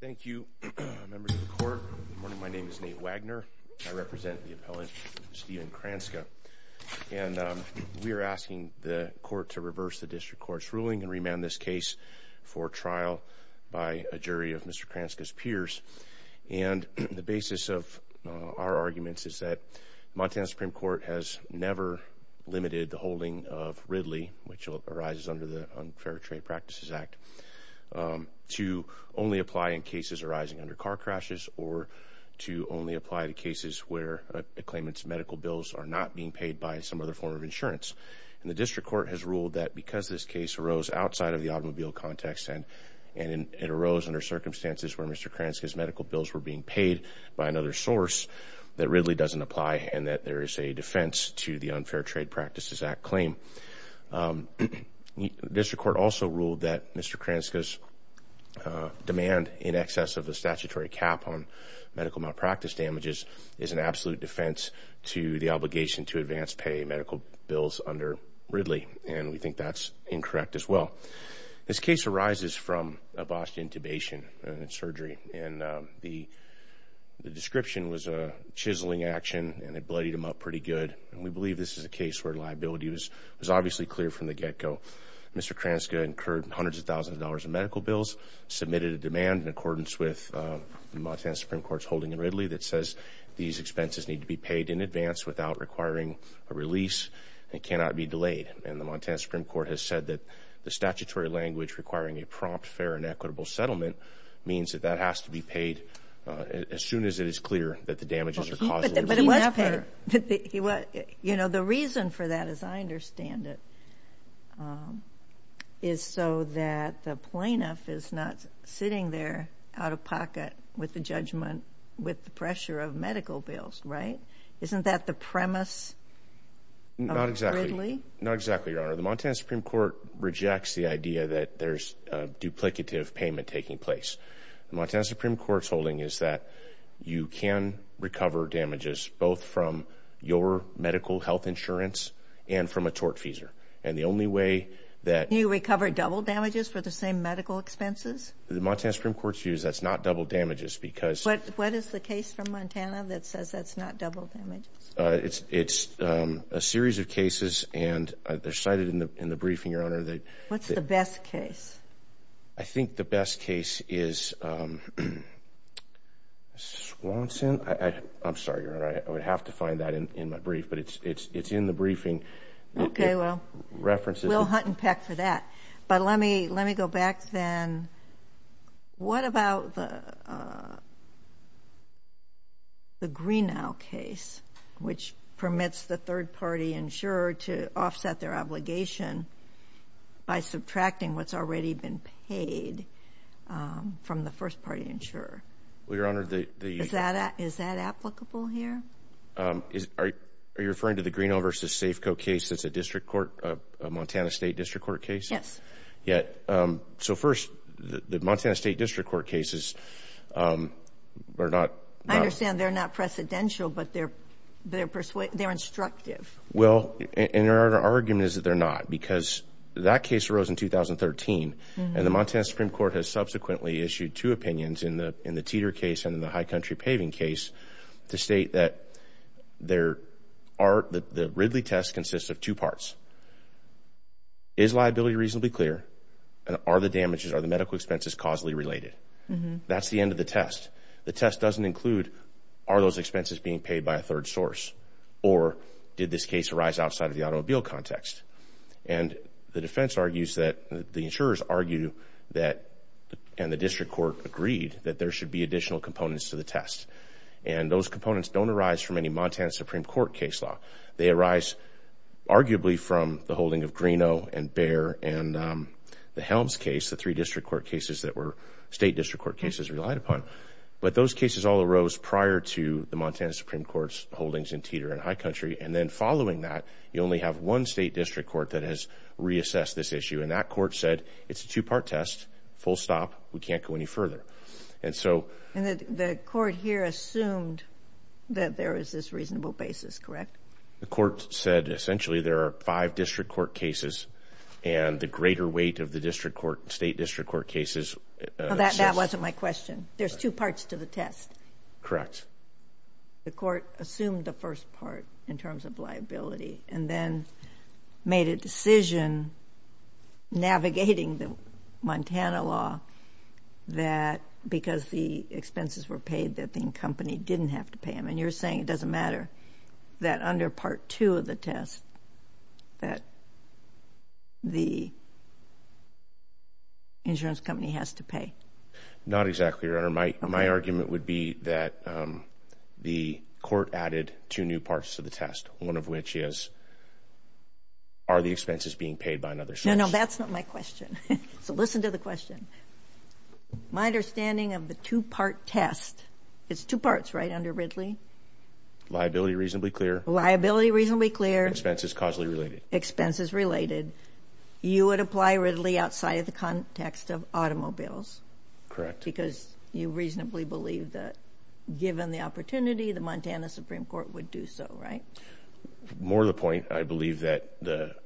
Thank you, members of the Court. Good morning. My name is Nate Wagner. I represent the appellant Stephen Kranska, and we are asking the Court to reverse the District Court's ruling and remand this case for trial by a jury of Mr. Kranska's peers. And the basis of our arguments is that Montana Supreme Court has never limited the holding of Ridley, which arises under the Unfair Trade Practices Act, to only apply in cases arising under car crashes or to only apply to cases where a claimant's medical bills are not being paid by some other form of insurance. And the District Court has ruled that because this case arose outside of the automobile context, and it arose under circumstances where Mr. Kranska's medical bills were being paid by another source, that Ridley doesn't apply and that there is a defense to the Unfair Trade Practices Act claim. The District Court also ruled that Mr. Kranska's demand in excess of a statutory cap on medical malpractice damages is an absolute defense to the obligation to advance pay medical bills under Ridley, and we think that's incorrect as well. This case arises from a Boston intubation and surgery, and the description was a chiseling action and it pretty good. And we believe this is a case where liability was obviously clear from the get-go. Mr. Kranska incurred hundreds of thousands of dollars in medical bills, submitted a demand in accordance with Montana Supreme Court's holding in Ridley that says these expenses need to be paid in advance without requiring a release and cannot be delayed. And the Montana Supreme Court has said that the statutory language requiring a prompt, fair, and equitable settlement means that that be paid as soon as it is clear that the damages are caused. But it was paid, you know, the reason for that as I understand it is so that the plaintiff is not sitting there out of pocket with the judgment with the pressure of medical bills, right? Isn't that the premise? Not exactly, not exactly, Your Honor. The Montana Supreme Court rejects the idea that there's a duplicative payment taking place. The Montana Supreme Court's holding is that you can recover damages both from your medical health insurance and from a tort feeser. And the only way that... Can you recover double damages for the same medical expenses? The Montana Supreme Court's view is that's not double damages because... What is the case from Montana that says that's not double damages? It's a series of cases and they're cited in the briefing, Your Honor. What's the best case? I think the best case is Swanson. I'm sorry, Your Honor. I would have to find that in my brief, but it's in the briefing. Okay, well, we'll hunt and peck for that. But let me go back then. What about the Greenell case, which permits the third-party insurer to offset their obligation by subtracting what's already been paid from the first-party insurer? Well, Your Honor, the... Is that applicable here? Are you referring to the Greenell v. Safeco case that's a district court, a Montana State District Court case? I understand they're not precedential, but they're instructive. Well, and our argument is that they're not, because that case arose in 2013 and the Montana Supreme Court has subsequently issued two opinions in the Teeter case and in the High Country Paving case to state that the Ridley test consists of two parts. Is liability reasonably clear and are the damages, are the medical expenses causally related? That's the end of the test. The test doesn't include, are those expenses being paid by a third source or did this case arise outside of the automobile context? And the defense argues that, the insurers argue that, and the district court agreed, that there should be additional components to the test. And those components don't arise from any Montana Supreme Court case law. They arise arguably from the holding of Greenell and Bear and the Helms case, the three district court cases that were state district court cases relied upon. But those cases all arose prior to the Montana Supreme Court's holdings in Teeter and High Country. And then following that, you only have one state district court that has reassessed this issue and that court said, it's a two-part test, full stop, we can't go any further. And so... And the court here assumed that there is this basis, correct? The court said essentially there are five district court cases and the greater weight of the district court, state district court cases... That wasn't my question. There's two parts to the test. Correct. The court assumed the first part in terms of liability and then made a decision navigating the Montana law that because the expenses were paid, the company didn't have to pay them. And you're saying it doesn't matter that under part two of the test that the insurance company has to pay? Not exactly, Your Honor. My argument would be that the court added two new parts to the test. One of which is, are the expenses being paid by another source? No, no, that's not my question. So listen to the question. My understanding of the two-part test, it's two parts, right, under Ridley? Liability reasonably clear. Liability reasonably clear. Expenses causally related. Expenses related. You would apply Ridley outside of the context of automobiles? Correct. Because you reasonably believe that given the opportunity, the Montana Supreme Court would do so, right? More the point, I believe that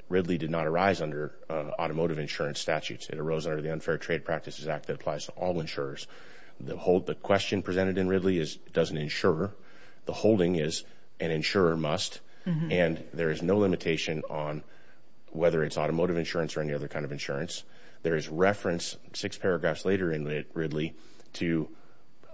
Ridley did not arise under automotive insurance statutes. It arose under the Unfair Trade Practices Act that applies to all insurers. The question presented in Ridley is, does an insurer? The holding is, an insurer must. And there is no limitation on whether it's automotive insurance or any other kind of insurance. There is reference, six paragraphs later in Ridley, to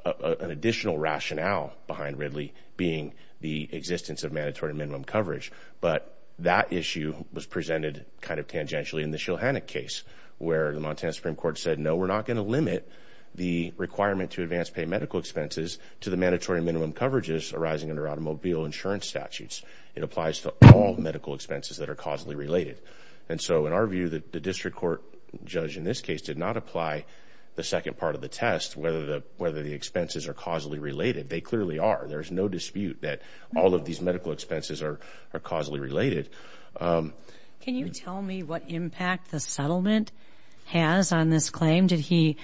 an additional rationale behind Ridley being the existence of mandatory minimum coverage. But that issue was presented kind of tangentially in the Shilhanik case, where the Montana Supreme Court said, no, we're not going to limit the requirement to advance pay medical expenses to the mandatory minimum coverages arising under automobile insurance statutes. It applies to all medical expenses that are causally related. And so in our view, the district court judge in this case did not apply the second part of the test, whether the expenses are causally related. They clearly are. There's no dispute that all of these medical expenses are causally related. Can you tell me what impact the settlement has on this claim? Did he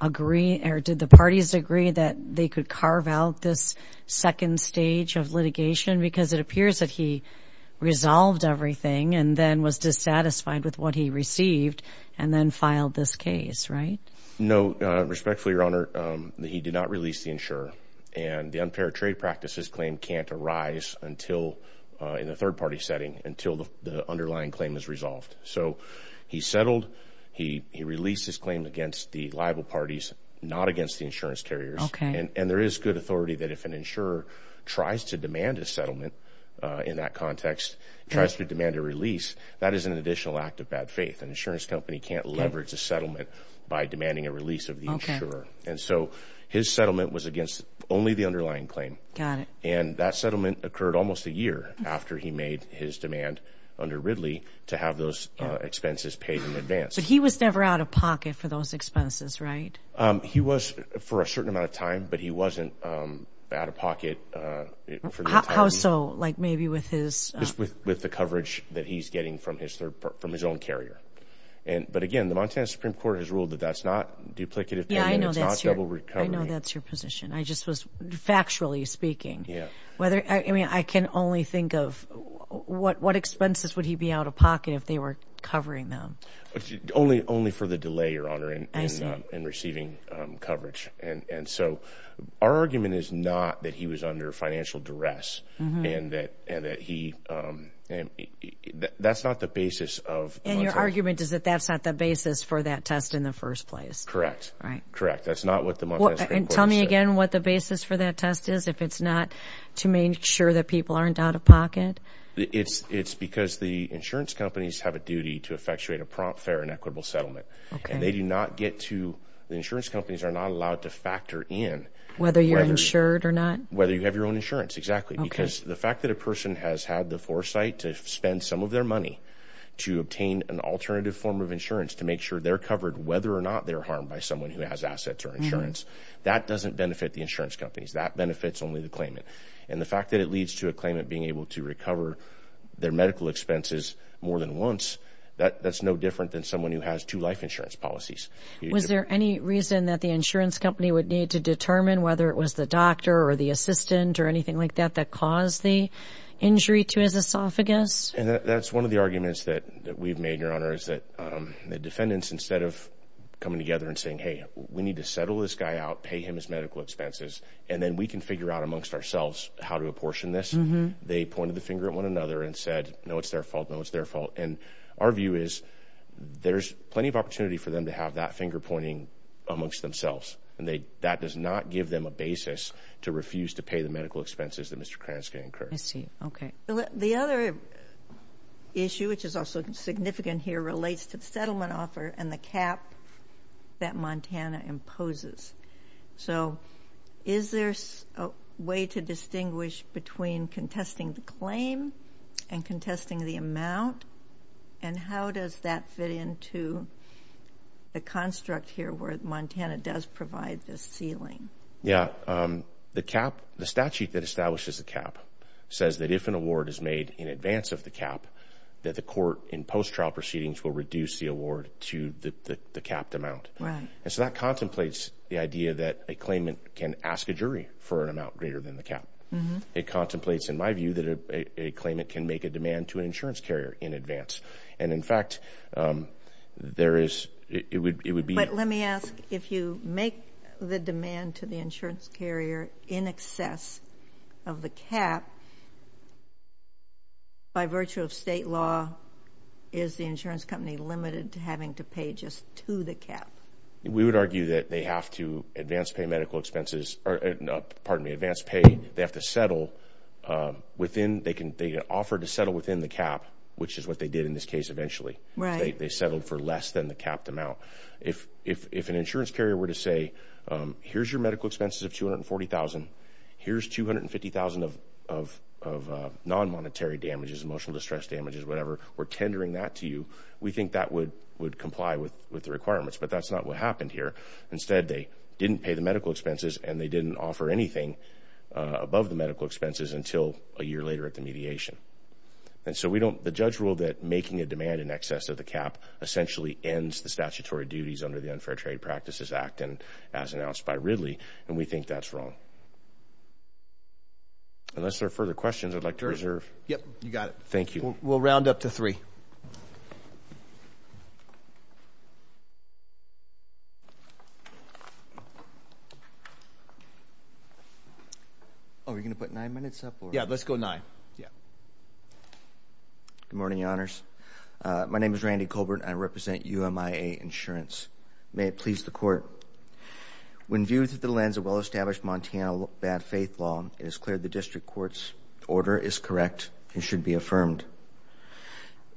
agree or did the parties agree that they could carve out this second stage of litigation? Because it appears that he resolved everything and then was dissatisfied with what he received and then filed this case, right? No. Respectfully, Your Honor, he did not release the insurer. And the unpaired trade practices claim can't arise until, in a third party setting, until the underlying claim is resolved. So he settled. He released his claim against the liable parties, not against the insurance carriers. And there is good authority that if an insurer tries to demand a settlement in that context, tries to demand a release, that is an additional act of bad faith. An insurance company can't leverage a settlement by demanding a release of the insurer. And so his settlement was against only the underlying claim. And that settlement occurred almost a year after he made his demand under Ridley to have those expenses paid in advance. So he was never out of pocket for those expenses, right? He was for a certain amount of time, but he wasn't out of pocket. How so? Like maybe with his... With the coverage that he's getting from his own carrier. But again, the Montana Supreme Court has ruled that that's not duplicative payment. It's not double recovery. Yeah, I know that's your position. I just was factually speaking. Yeah. Whether... I mean, I can only think of what expenses would he be out of pocket if they were covering them? Only for the delay, Your Honor, in receiving coverage. And so our argument is not that he was under financial duress and that he... That's not the basis of... And your argument is that that's not the basis for that test in the first place. Correct. Correct. That's not what the Montana Supreme Court has said. And tell me again what the basis for that test is if it's not to make sure that people aren't out of pocket? It's because the insurance companies have a duty to effectuate a prompt, fair, and equitable settlement. Okay. And they do not get to... The insurance companies are not allowed to factor in... Whether you're insured or not? Whether you have your own insurance, exactly. Because the fact that a person has had the foresight to spend some of their money to obtain an alternative form of insurance to make sure they're covered, whether or not they're harmed by someone who has assets or insurance, that doesn't benefit the insurance companies. That benefits only the claimant. And the fact that it leads to a claimant being able to recover their medical expenses more than once, that's no different than someone who has two life insurance policies. Was there any reason that the insurance company would need to determine whether it was the doctor or the assistant or anything like that that caused the injury to his esophagus? And that's one of the arguments that we've made, Your Honor, is that the defendants, instead of coming together and saying, hey, we need to settle this guy out, pay him his medical expenses, and then we can figure out amongst ourselves how to apportion this, they pointed the finger at one another and said, no, it's their fault, no, it's their fault. And our view is there's plenty of opportunity for them to have that finger pointing amongst themselves. And that does not give them a basis to refuse to pay the medical expenses that Mr. Kransky incurred. I see. Okay. The other issue, which is also significant here, relates to the settlement offer and the cap that Montana imposes. So is there a way to distinguish between contesting the claim and contesting the amount? And how does that fit into the construct here where Montana does provide this ceiling? Yeah. The statute that establishes the cap says that if an award is in advance of the cap, that the court in post-trial proceedings will reduce the award to the capped amount. Right. And so that contemplates the idea that a claimant can ask a jury for an amount greater than the cap. It contemplates, in my view, that a claimant can make a demand to an insurance carrier in advance. And in fact, there is, it would be- But let me ask, if you make the demand to the insurance carrier in excess of the cap, by virtue of state law, is the insurance company limited to having to pay just to the cap? We would argue that they have to advance pay medical expenses, or pardon me, advance pay. They have to settle within, they can offer to settle within the cap, which is what they did eventually. They settled for less than the capped amount. If an insurance carrier were to say, here's your medical expenses of $240,000, here's $250,000 of non-monetary damages, emotional distress damages, whatever, we're tendering that to you, we think that would comply with the requirements. But that's not what happened here. Instead, they didn't pay the medical expenses and they didn't offer anything above the medical expenses until a year later at mediation. And so we don't, the judge ruled that making a demand in excess of the cap essentially ends the statutory duties under the Unfair Trade Practices Act, and as announced by Ridley, and we think that's wrong. Unless there are further questions, I'd like to reserve- Yep, you got it. Thank you. We'll round up to three. Are we going to put nine minutes up? Yeah, let's go nine. Yeah. Good morning, your honors. My name is Randy Colbert. I represent UMIA Insurance. May it please the court. When viewed through the lens of well-established Montana bad faith law, it is clear the district court's order is correct and should be affirmed.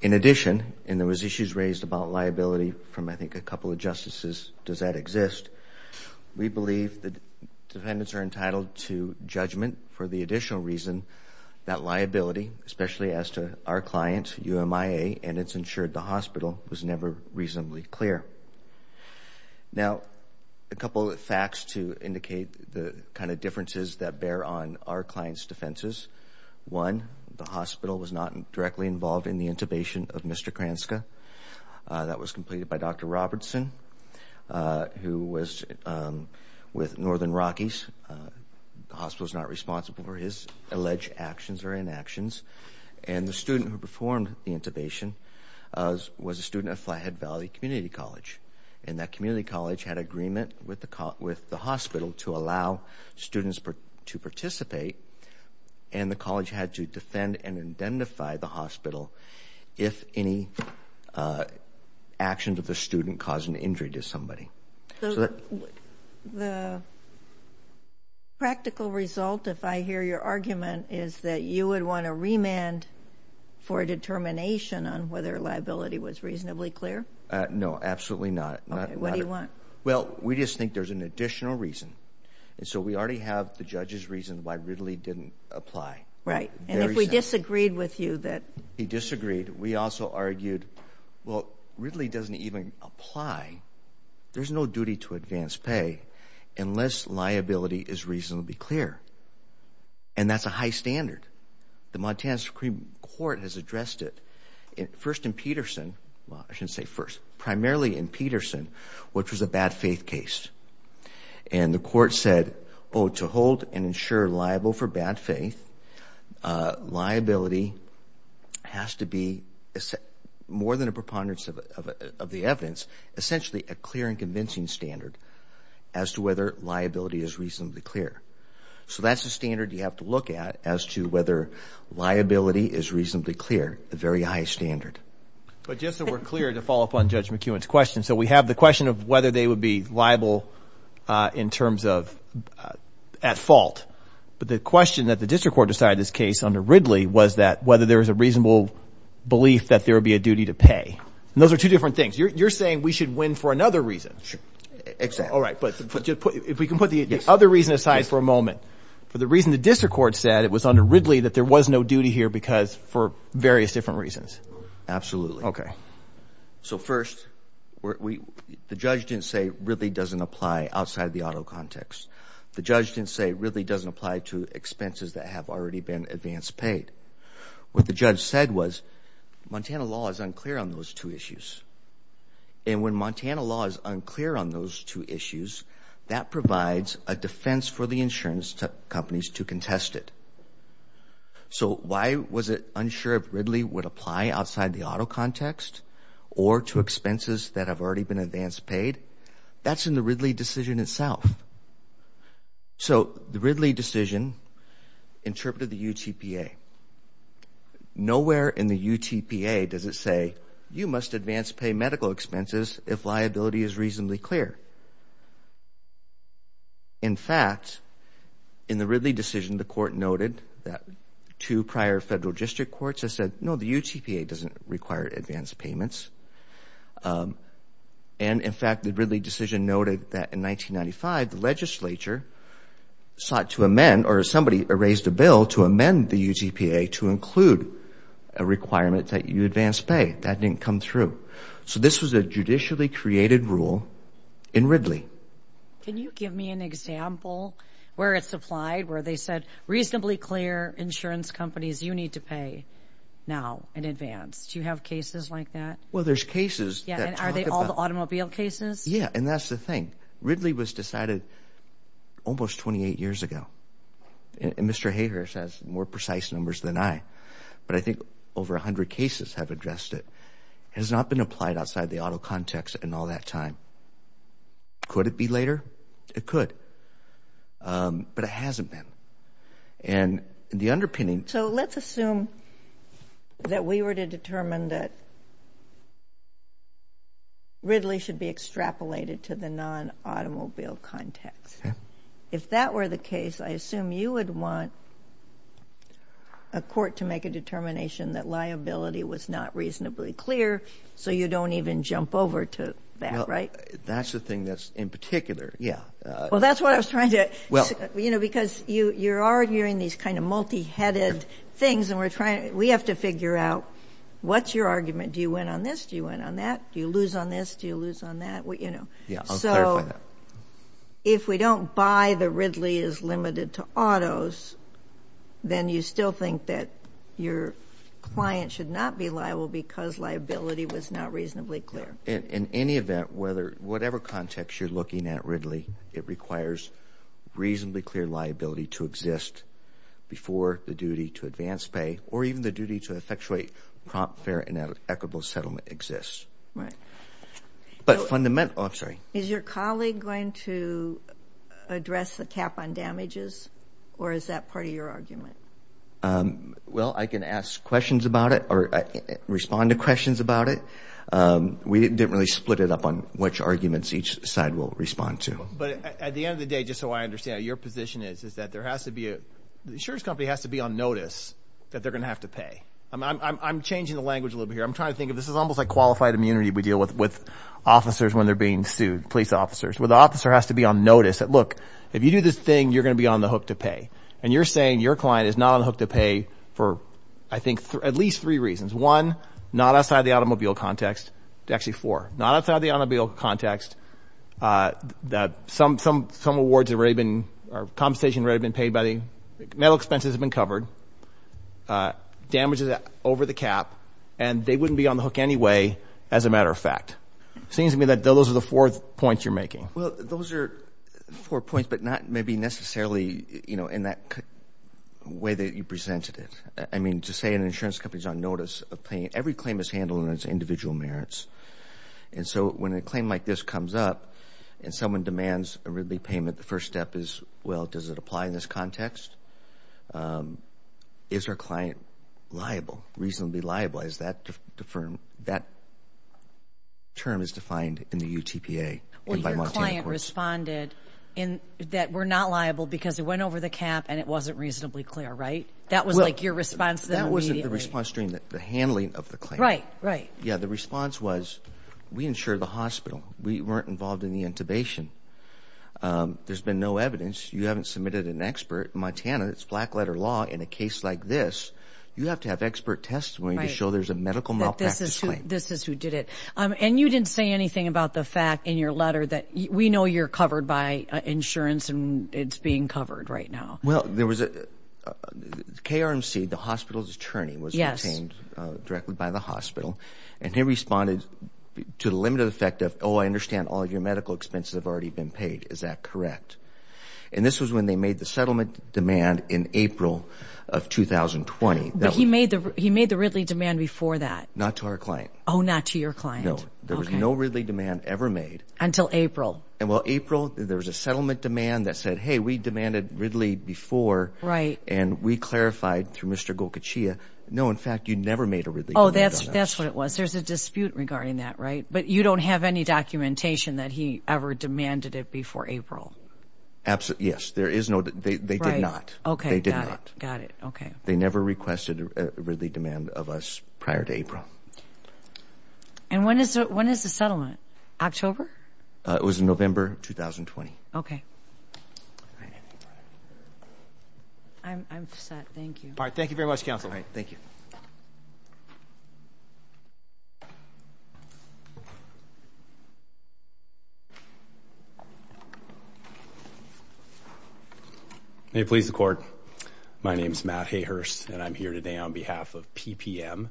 In addition, and there was issues raised about liability from, I think, a couple of justices, does that exist? We believe that defendants are entitled to judgment for the additional reason that liability, especially as to our client, UMIA, and it's insured the hospital, was never reasonably clear. Now, a couple of facts to indicate the kind of differences that bear on our client's defenses. One, the hospital was not directly involved in the intubation of Mr. Kranska. That was completed by Dr. Robertson, who was with Northern Rockies. The hospital's not responsible for his alleged actions or inactions, and the student who performed the intubation was a student at Flathead Valley Community College, and that community college had agreement with the hospital to allow students to participate, and the college had to defend and indemnify the hospital if any actions of the student caused an injury to somebody. So, the practical result, if I hear your argument, is that you would want a remand for a determination on whether liability was reasonably clear? No, absolutely not. Okay, what do you want? Well, we just think there's an additional reason, and so we already have the judge's reason why Ridley didn't apply. Right, and if we disagreed with you that... He disagreed. We also argued, well, Ridley doesn't even apply. There's no duty to advance pay unless liability is reasonably clear, and that's a high standard. The Montana Supreme Court has addressed it first in Peterson. Well, I shouldn't say first. Primarily in Peterson, which was a bad faith case, and the court said, oh, to hold and ensure liable for bad faith, liability has to be, more than a preponderance of the evidence, essentially a clear and convincing standard as to whether liability is reasonably clear. So, that's the standard you have to look at as to whether liability is reasonably clear, the very high standard. But just so we're clear to follow up on Judge McEwen's question, so we have the question of whether they would be liable in terms of at fault, but the question that the district court decided in this case under Ridley was that whether there was a reasonable belief that there would be a duty to pay, and those are two different things. You're saying we should win for another reason. Sure, exactly. All right, but if we can put the other reason aside for a moment. For the reason the district court said, it was under Ridley that there was no duty here because for various different reasons. Absolutely. So, first, the judge didn't say Ridley doesn't apply outside of the auto context. The judge didn't say Ridley doesn't apply to expenses that have already been advance paid. What the judge said was Montana law is unclear on those two issues, and when Montana law is unclear on those two issues, that provides a defense for the insurance companies to contest it. So, why was it unsure if Ridley would apply outside the auto context or to expenses that have already been advance paid? That's in the Ridley decision itself. So, the Ridley decision interpreted the UTPA. Nowhere in the UTPA does it say you must advance pay medical expenses if liability is reasonably clear. In fact, in the Ridley decision, the court noted that two prior federal district courts have said, no, the UTPA doesn't require advance payments. And, in fact, the Ridley decision noted that in 1995, the legislature sought to amend, or somebody raised a bill to amend the UTPA to include a requirement that you advance pay. That didn't come through. So, this was a judicially created rule in Can you give me an example where it's applied, where they said, reasonably clear insurance companies, you need to pay now in advance. Do you have cases like that? Well, there's cases. Yeah, and are they all the automobile cases? Yeah, and that's the thing. Ridley was decided almost 28 years ago. And Mr. Hayhurst has more precise numbers than I, but I think over 100 cases have addressed it. It has not been applied outside the auto context in all that time. Could it be later? It could, but it hasn't been. And the underpinning So, let's assume that we were to determine that Ridley should be extrapolated to the non-automobile context. If that were the case, I assume you would want a court to make a that liability was not reasonably clear, so you don't even jump over to that, right? That's the thing that's in particular, yeah. Well, that's what I was trying to, you know, because you're already hearing these kind of multi-headed things, and we're trying, we have to figure out, what's your argument? Do you win on this? Do you win on that? Do you lose on this? Do you lose on that? You know, so, if we don't buy the Ridley is limited to autos, then you still think that your client should not be liable because liability was not reasonably clear. In any event, whatever context you're looking at Ridley, it requires reasonably clear liability to exist before the duty to advance pay, or even the duty to effectuate prompt, fair, and equitable settlement exists. Right. But fundamental, is your colleague going to address the cap on damages, or is that part of your argument? Well, I can ask questions about it, or respond to questions about it. We didn't really split it up on which arguments each side will respond to. But at the end of the day, just so I understand how your position is, is that there has to be, the insurance company has to be on notice that they're going to have to pay. I'm changing the language a little bit here. I'm trying to this is almost like qualified immunity. We deal with officers when they're being sued, police officers, where the officer has to be on notice that, look, if you do this thing, you're going to be on the hook to pay. And you're saying your client is not on the hook to pay for, I think, at least three reasons. One, not outside the automobile context, actually four, not outside the automobile context, that some awards have already been, or compensation already been paid by the, metal expenses have been covered, damages over the cap, and they wouldn't be on the hook anyway, as a matter of fact. It seems to me that those are the four points you're making. Well, those are four points, but not maybe necessarily, you know, in that way that you presented it. I mean, to say an insurance company is on notice of paying, every claim is handled in its individual merits. And so, when a claim like this comes up, and someone demands a RIDLEY payment, the first step is, well, does it apply in this context? Is our client liable, reasonably liable? Is that term is defined in the UTPA? Well, your client responded that we're not liable because it went over the cap, and it wasn't reasonably clear, right? That was like your response then immediately. That wasn't the response during the handling of the claim. Right, right. Yeah, the response was, we insured the hospital. We weren't involved in the intubation. There's been no evidence. You haven't submitted an expert. Montana, it's black letter law. In a case like this, you have to have expert testimony to show there's a medical malpractice claim. This is who did it. And you didn't say anything about the fact in your letter that we know you're covered by insurance, and it's being covered right now. Well, there was a KRMC, the hospital's attorney, was detained directly by the hospital, and he responded to the limited effect of, oh, I understand all your medical expenses have already been paid. Is that correct? And this was when they made the settlement demand in April of 2020. But he made the Ridley demand before that. Not to our client. Oh, not to your client. No, there was no Ridley demand ever made. Until April. And well, April, there was a settlement demand that said, hey, we demanded Ridley before. Right. And we clarified through Mr. Gokachia, no, in fact, you never made a Ridley. Oh, that's what it was. There's a dispute regarding that, right? But you don't have any documentation that he ever demanded it before April. Absolutely. Yes, there is no. They did not. Okay. They did not. Got it. Okay. They never requested a Ridley demand of us prior to April. And when is the settlement? October? It was in November of 2020. Okay. I'm set. Thank you. All right. Thank you very much, counsel. All right. Thank you. May it please the court. My name is Matt Hayhurst, and I'm here today on behalf of PPM,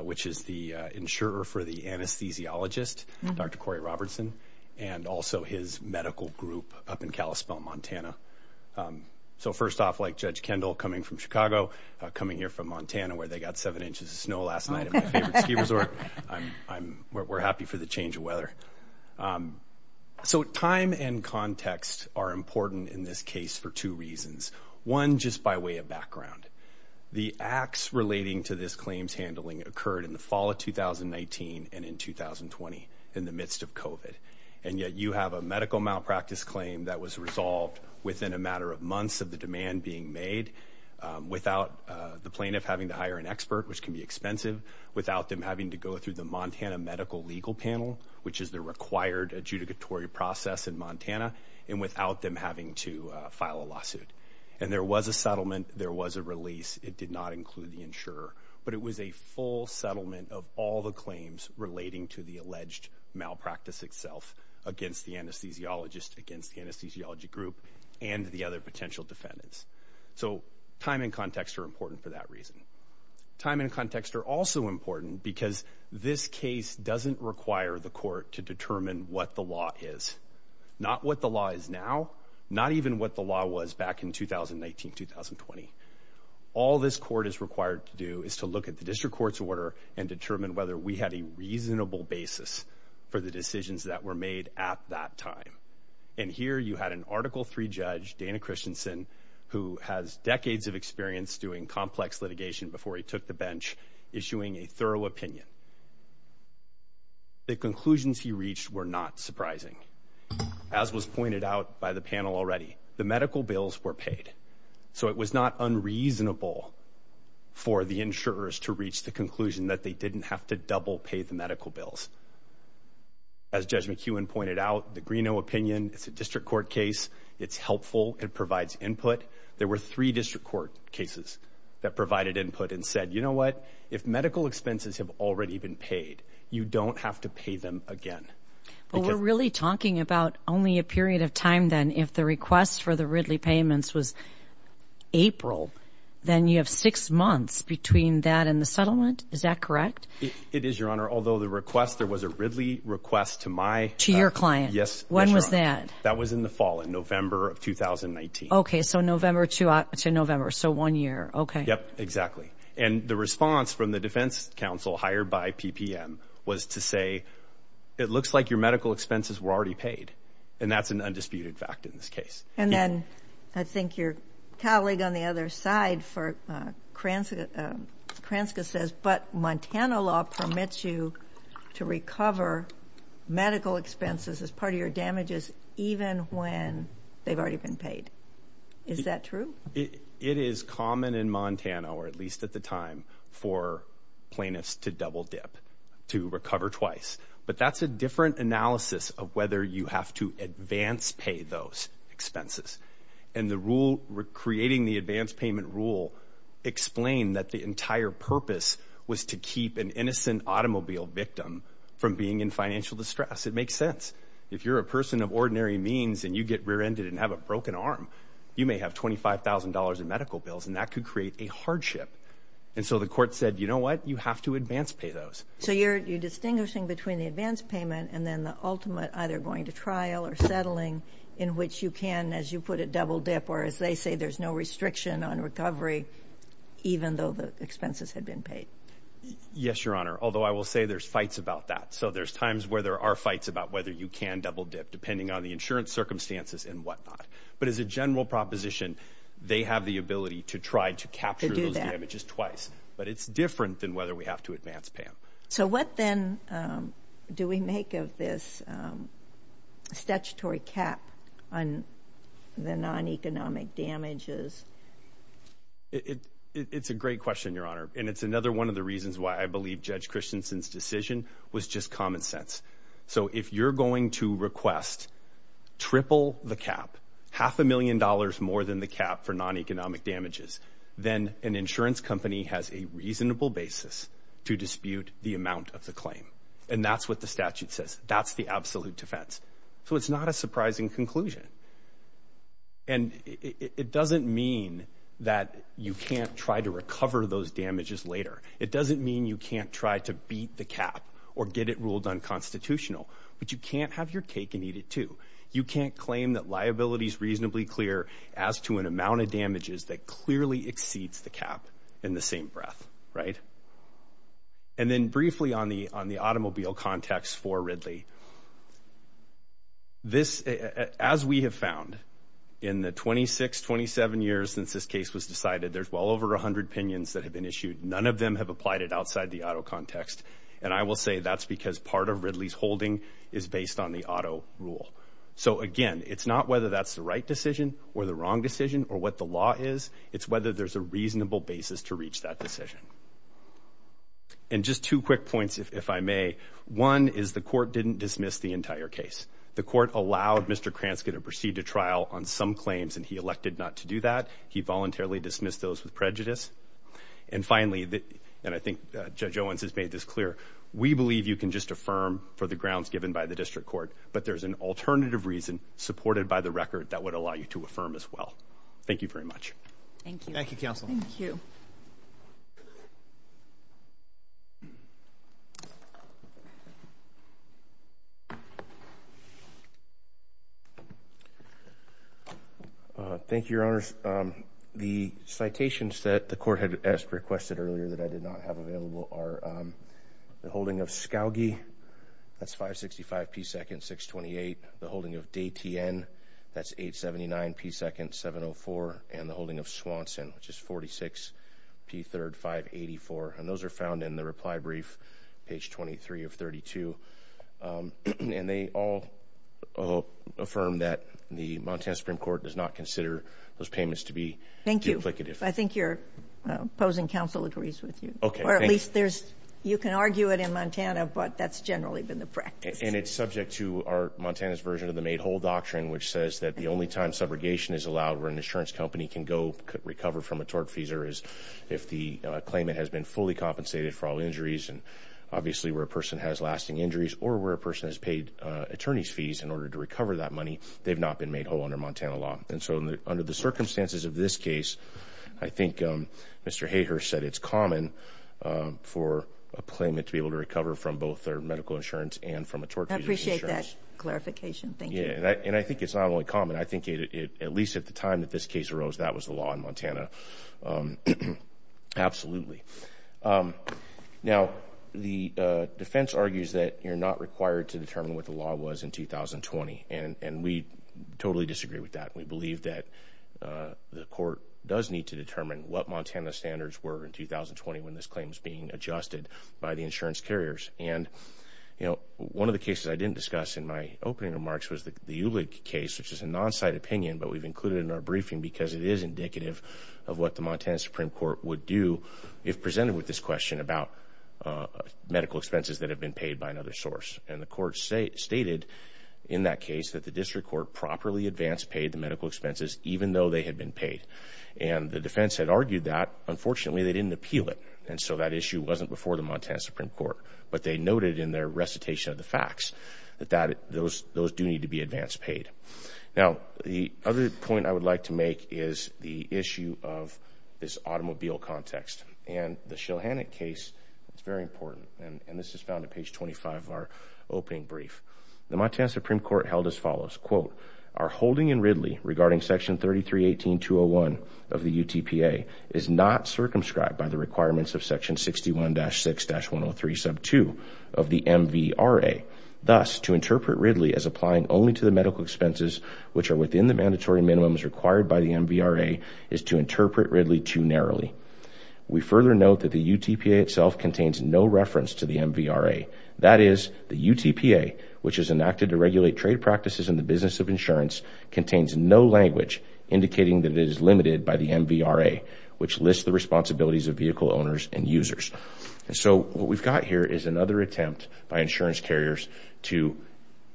which is the insurer for the anesthesiologist, Dr. Corey Robertson, and also his medical group up in Kalispell, Montana. So first off, like Judge Kendall coming from Chicago, coming here from Montana, where they got seven inches of snow last night at my favorite ski resort, we're happy for the change of weather. Okay. So time and context are important in this case for two reasons. One, just by way of background. The acts relating to this claims handling occurred in the fall of 2019 and in 2020 in the midst of COVID. And yet you have a medical malpractice claim that was resolved within a matter of months of the demand being made without the plaintiff having to hire an expert, which can be expensive, without them having to go through the Montana Medical Legal Panel, which is the required adjudicatory process in Montana, and without them having to file a lawsuit. And there was a settlement. There was a release. It did not include the insurer, but it was a full settlement of all the claims relating to the alleged malpractice itself against the anesthesiologist, against the anesthesiology group, and the other potential defendants. So time and context are important for that reason. Time and context are also important because this case doesn't require the court to determine what the law is, not what the law is now, not even what the law was back in 2019-2020. All this court is required to do is to look at the district court's order and determine whether we had a reasonable basis for the decisions that were made at that time. And here you had an Article III judge, Dana Christensen, who has decades of doing complex litigation before he took the bench, issuing a thorough opinion. The conclusions he reached were not surprising. As was pointed out by the panel already, the medical bills were paid. So it was not unreasonable for the insurers to reach the conclusion that they didn't have to double pay the medical bills. As Judge McEwen pointed out, the Greeno opinion, it's a district court case. It's helpful. It provides input. There were three district court cases that provided input and said, you know what, if medical expenses have already been paid, you don't have to pay them again. But we're really talking about only a period of time then if the request for the Ridley payments was April, then you have six months between that and the settlement. Is that correct? It is, Your Honor. Although the request, there was a Ridley request to my... To your client. Yes. When was that? That was in the fall, in November of 2019. Okay. So November to October, to November. So one year. Okay. Yep. Exactly. And the response from the defense counsel hired by PPM was to say, it looks like your medical expenses were already paid. And that's an undisputed fact in this case. And then I think your colleague on the other side for Kranska says, but Montana law permits you to recover medical expenses as part of your damages, even when they've already been paid. Is that true? It is common in Montana, or at least at the time, for plaintiffs to double dip, to recover twice. But that's a different analysis of whether you have to advance pay those expenses. And the rule, creating the advance payment rule, explained that the entire purpose was to keep an innocent automobile victim from being in distress. It makes sense. If you're a person of ordinary means, and you get rear-ended and have a broken arm, you may have $25,000 in medical bills, and that could create a hardship. And so the court said, you know what? You have to advance pay those. So you're distinguishing between the advance payment and then the ultimate, either going to trial or settling, in which you can, as you put it, double dip, or as they say, there's no restriction on recovery, even though the expenses had been paid. Yes, Your Honor. Although I will say there's fights about that. So there's times where there are fights about whether you can double dip, depending on the insurance circumstances and whatnot. But as a general proposition, they have the ability to try to capture those damages twice. But it's different than whether we have to advance pay them. So what then do we make of this statutory cap on the non-economic damages? It's a great question, Your Honor. And it's another one of the reasons why I believe Judge Christensen's decision was just common sense. So if you're going to request triple the cap, half a million dollars more than the cap for non-economic damages, then an insurance company has a reasonable basis to dispute the amount of the claim. And that's what the statute says. That's the absolute defense. So it's not a surprising conclusion. And it doesn't mean that you can't try to recover those damages later. It doesn't mean you can't try to beat the cap or get it ruled unconstitutional. But you can't have your cake and eat it, too. You can't claim that liability is reasonably clear as to an amount of damages that clearly exceeds the cap in the same breath, right? And then briefly on the automobile context for Ridley, this, as we have found in the 26, 27 years since this case was decided, there's well over 100 opinions that have been issued. None of them have applied it outside the auto context. And I will say that's because part of Ridley's holding is based on the auto rule. So again, it's not whether that's the right decision or the wrong decision or what the law is. It's whether there's a reasonable basis to reach that decision. And just two quick points, if I may. One is the court didn't dismiss the entire case. The court allowed Mr. Krantz to proceed to trial on some claims, and he elected not to do that. He voluntarily dismissed those with prejudice. And finally, and I think Judge Owens has made this clear, we believe you can just affirm for the grounds given by the district court. But there's an alternative reason supported by the record that would allow you to affirm as well. Thank you very much. Thank you. Thank you, counsel. Thank you. Thank you, Your Honors. The citations that the court had requested earlier that I did not have available are the holding of Scalgi. That's 565 P. Second 628. The holding of Dayton. That's 879 P. Second 704. And the holding of Swanson, which is 46 P. Third 584. And those are found in the reply brief, page 23 of 32. And they all affirm that the Montana Supreme Court does not consider those payments to be duplicative. Thank you. I think your opposing counsel agrees with you. Okay. Or at least there's, you can argue it in Montana, but that's generally been the practice. And it's subject to our Montana's version of the made whole doctrine, which says that the only time subrogation is allowed where an insurance company can go recover from a tortfeasor is if the claimant has been fully compensated for all injuries. And obviously where a person has lasting injuries or where a person has paid attorney's fees in order to recover that money, they've not been made whole under Montana law. And so under the circumstances of this case, I think Mr. Hayhurst said it's common for a claimant to be able to recover from both their medical insurance and from a tortfeasor. I appreciate that clarification. Thank you. And I think it's not only common. I think it, at least at the time that this case arose, that was the law in Montana. Absolutely. Now the defense argues that you're not required to determine what the law was in 2020. And we totally disagree with that. We believe that the court does need to determine what Montana standards were in 2020 when this claim is being adjusted by the insurance carriers. And, you know, one of the cases I didn't discuss in my opening remarks was the Ulig case, which is a non-site opinion, but we've included in our briefing because it is indicative of what the Montana Supreme Court would do if presented with this question about medical expenses that have been paid by another source. And the court stated in that case that the district court properly advanced paid the medical expenses, even though they had been paid. And the defense had argued that unfortunately they didn't appeal it. And so that issue wasn't before the Montana Supreme Court, but they noted in their recitation of the facts that that, those, those do need to be advanced paid. Now, the other point I would like to make is the issue of this automobile context and the Shilhannock case. It's very important. And this is found in page 25 of our opening brief. The Montana Supreme Court held as follows, quote, our holding in Ridley regarding section 33, 18, 201 of the UTPA is not circumscribed by the requirements of section 61-6-103 sub two of the MVRA. Thus to interpret Ridley as applying only to the medical expenses, which are within the mandatory minimums required by the MVRA is to interpret Ridley too narrowly. We further note that the UTPA itself contains no reference to the MVRA. That is the UTPA, which is enacted to regulate trade practices in the business of insurance contains no language indicating that it is limited by the MVRA, which lists the and users. And so what we've got here is another attempt by insurance carriers to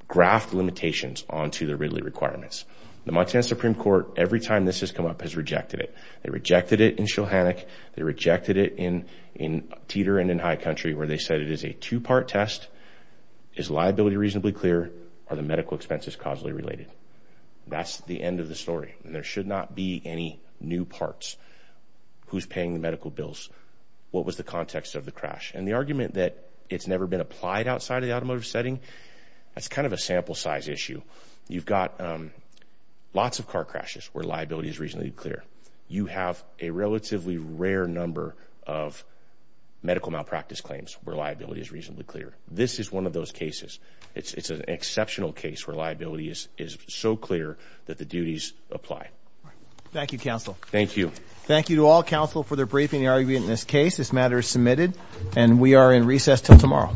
graph the limitations onto the Ridley requirements. The Montana Supreme Court, every time this has come up has rejected it. They rejected it in Shilhannock. They rejected it in, in Teeter and in High Country, where they said it is a two-part test. Is liability reasonably clear? Are the medical expenses causally related? That's the end of the story. And there should not be any new parts who's paying the medical bills what was the context of the crash and the argument that it's never been applied outside of the automotive setting. That's kind of a sample size issue. You've got lots of car crashes where liability is reasonably clear. You have a relatively rare number of medical malpractice claims where liability is reasonably clear. This is one of those cases. It's an exceptional case where liability is so clear that the duties apply. Thank you, counsel. Thank you. Thank you all counsel for their briefing the argument in this case. This matter is submitted and we are in recess till tomorrow.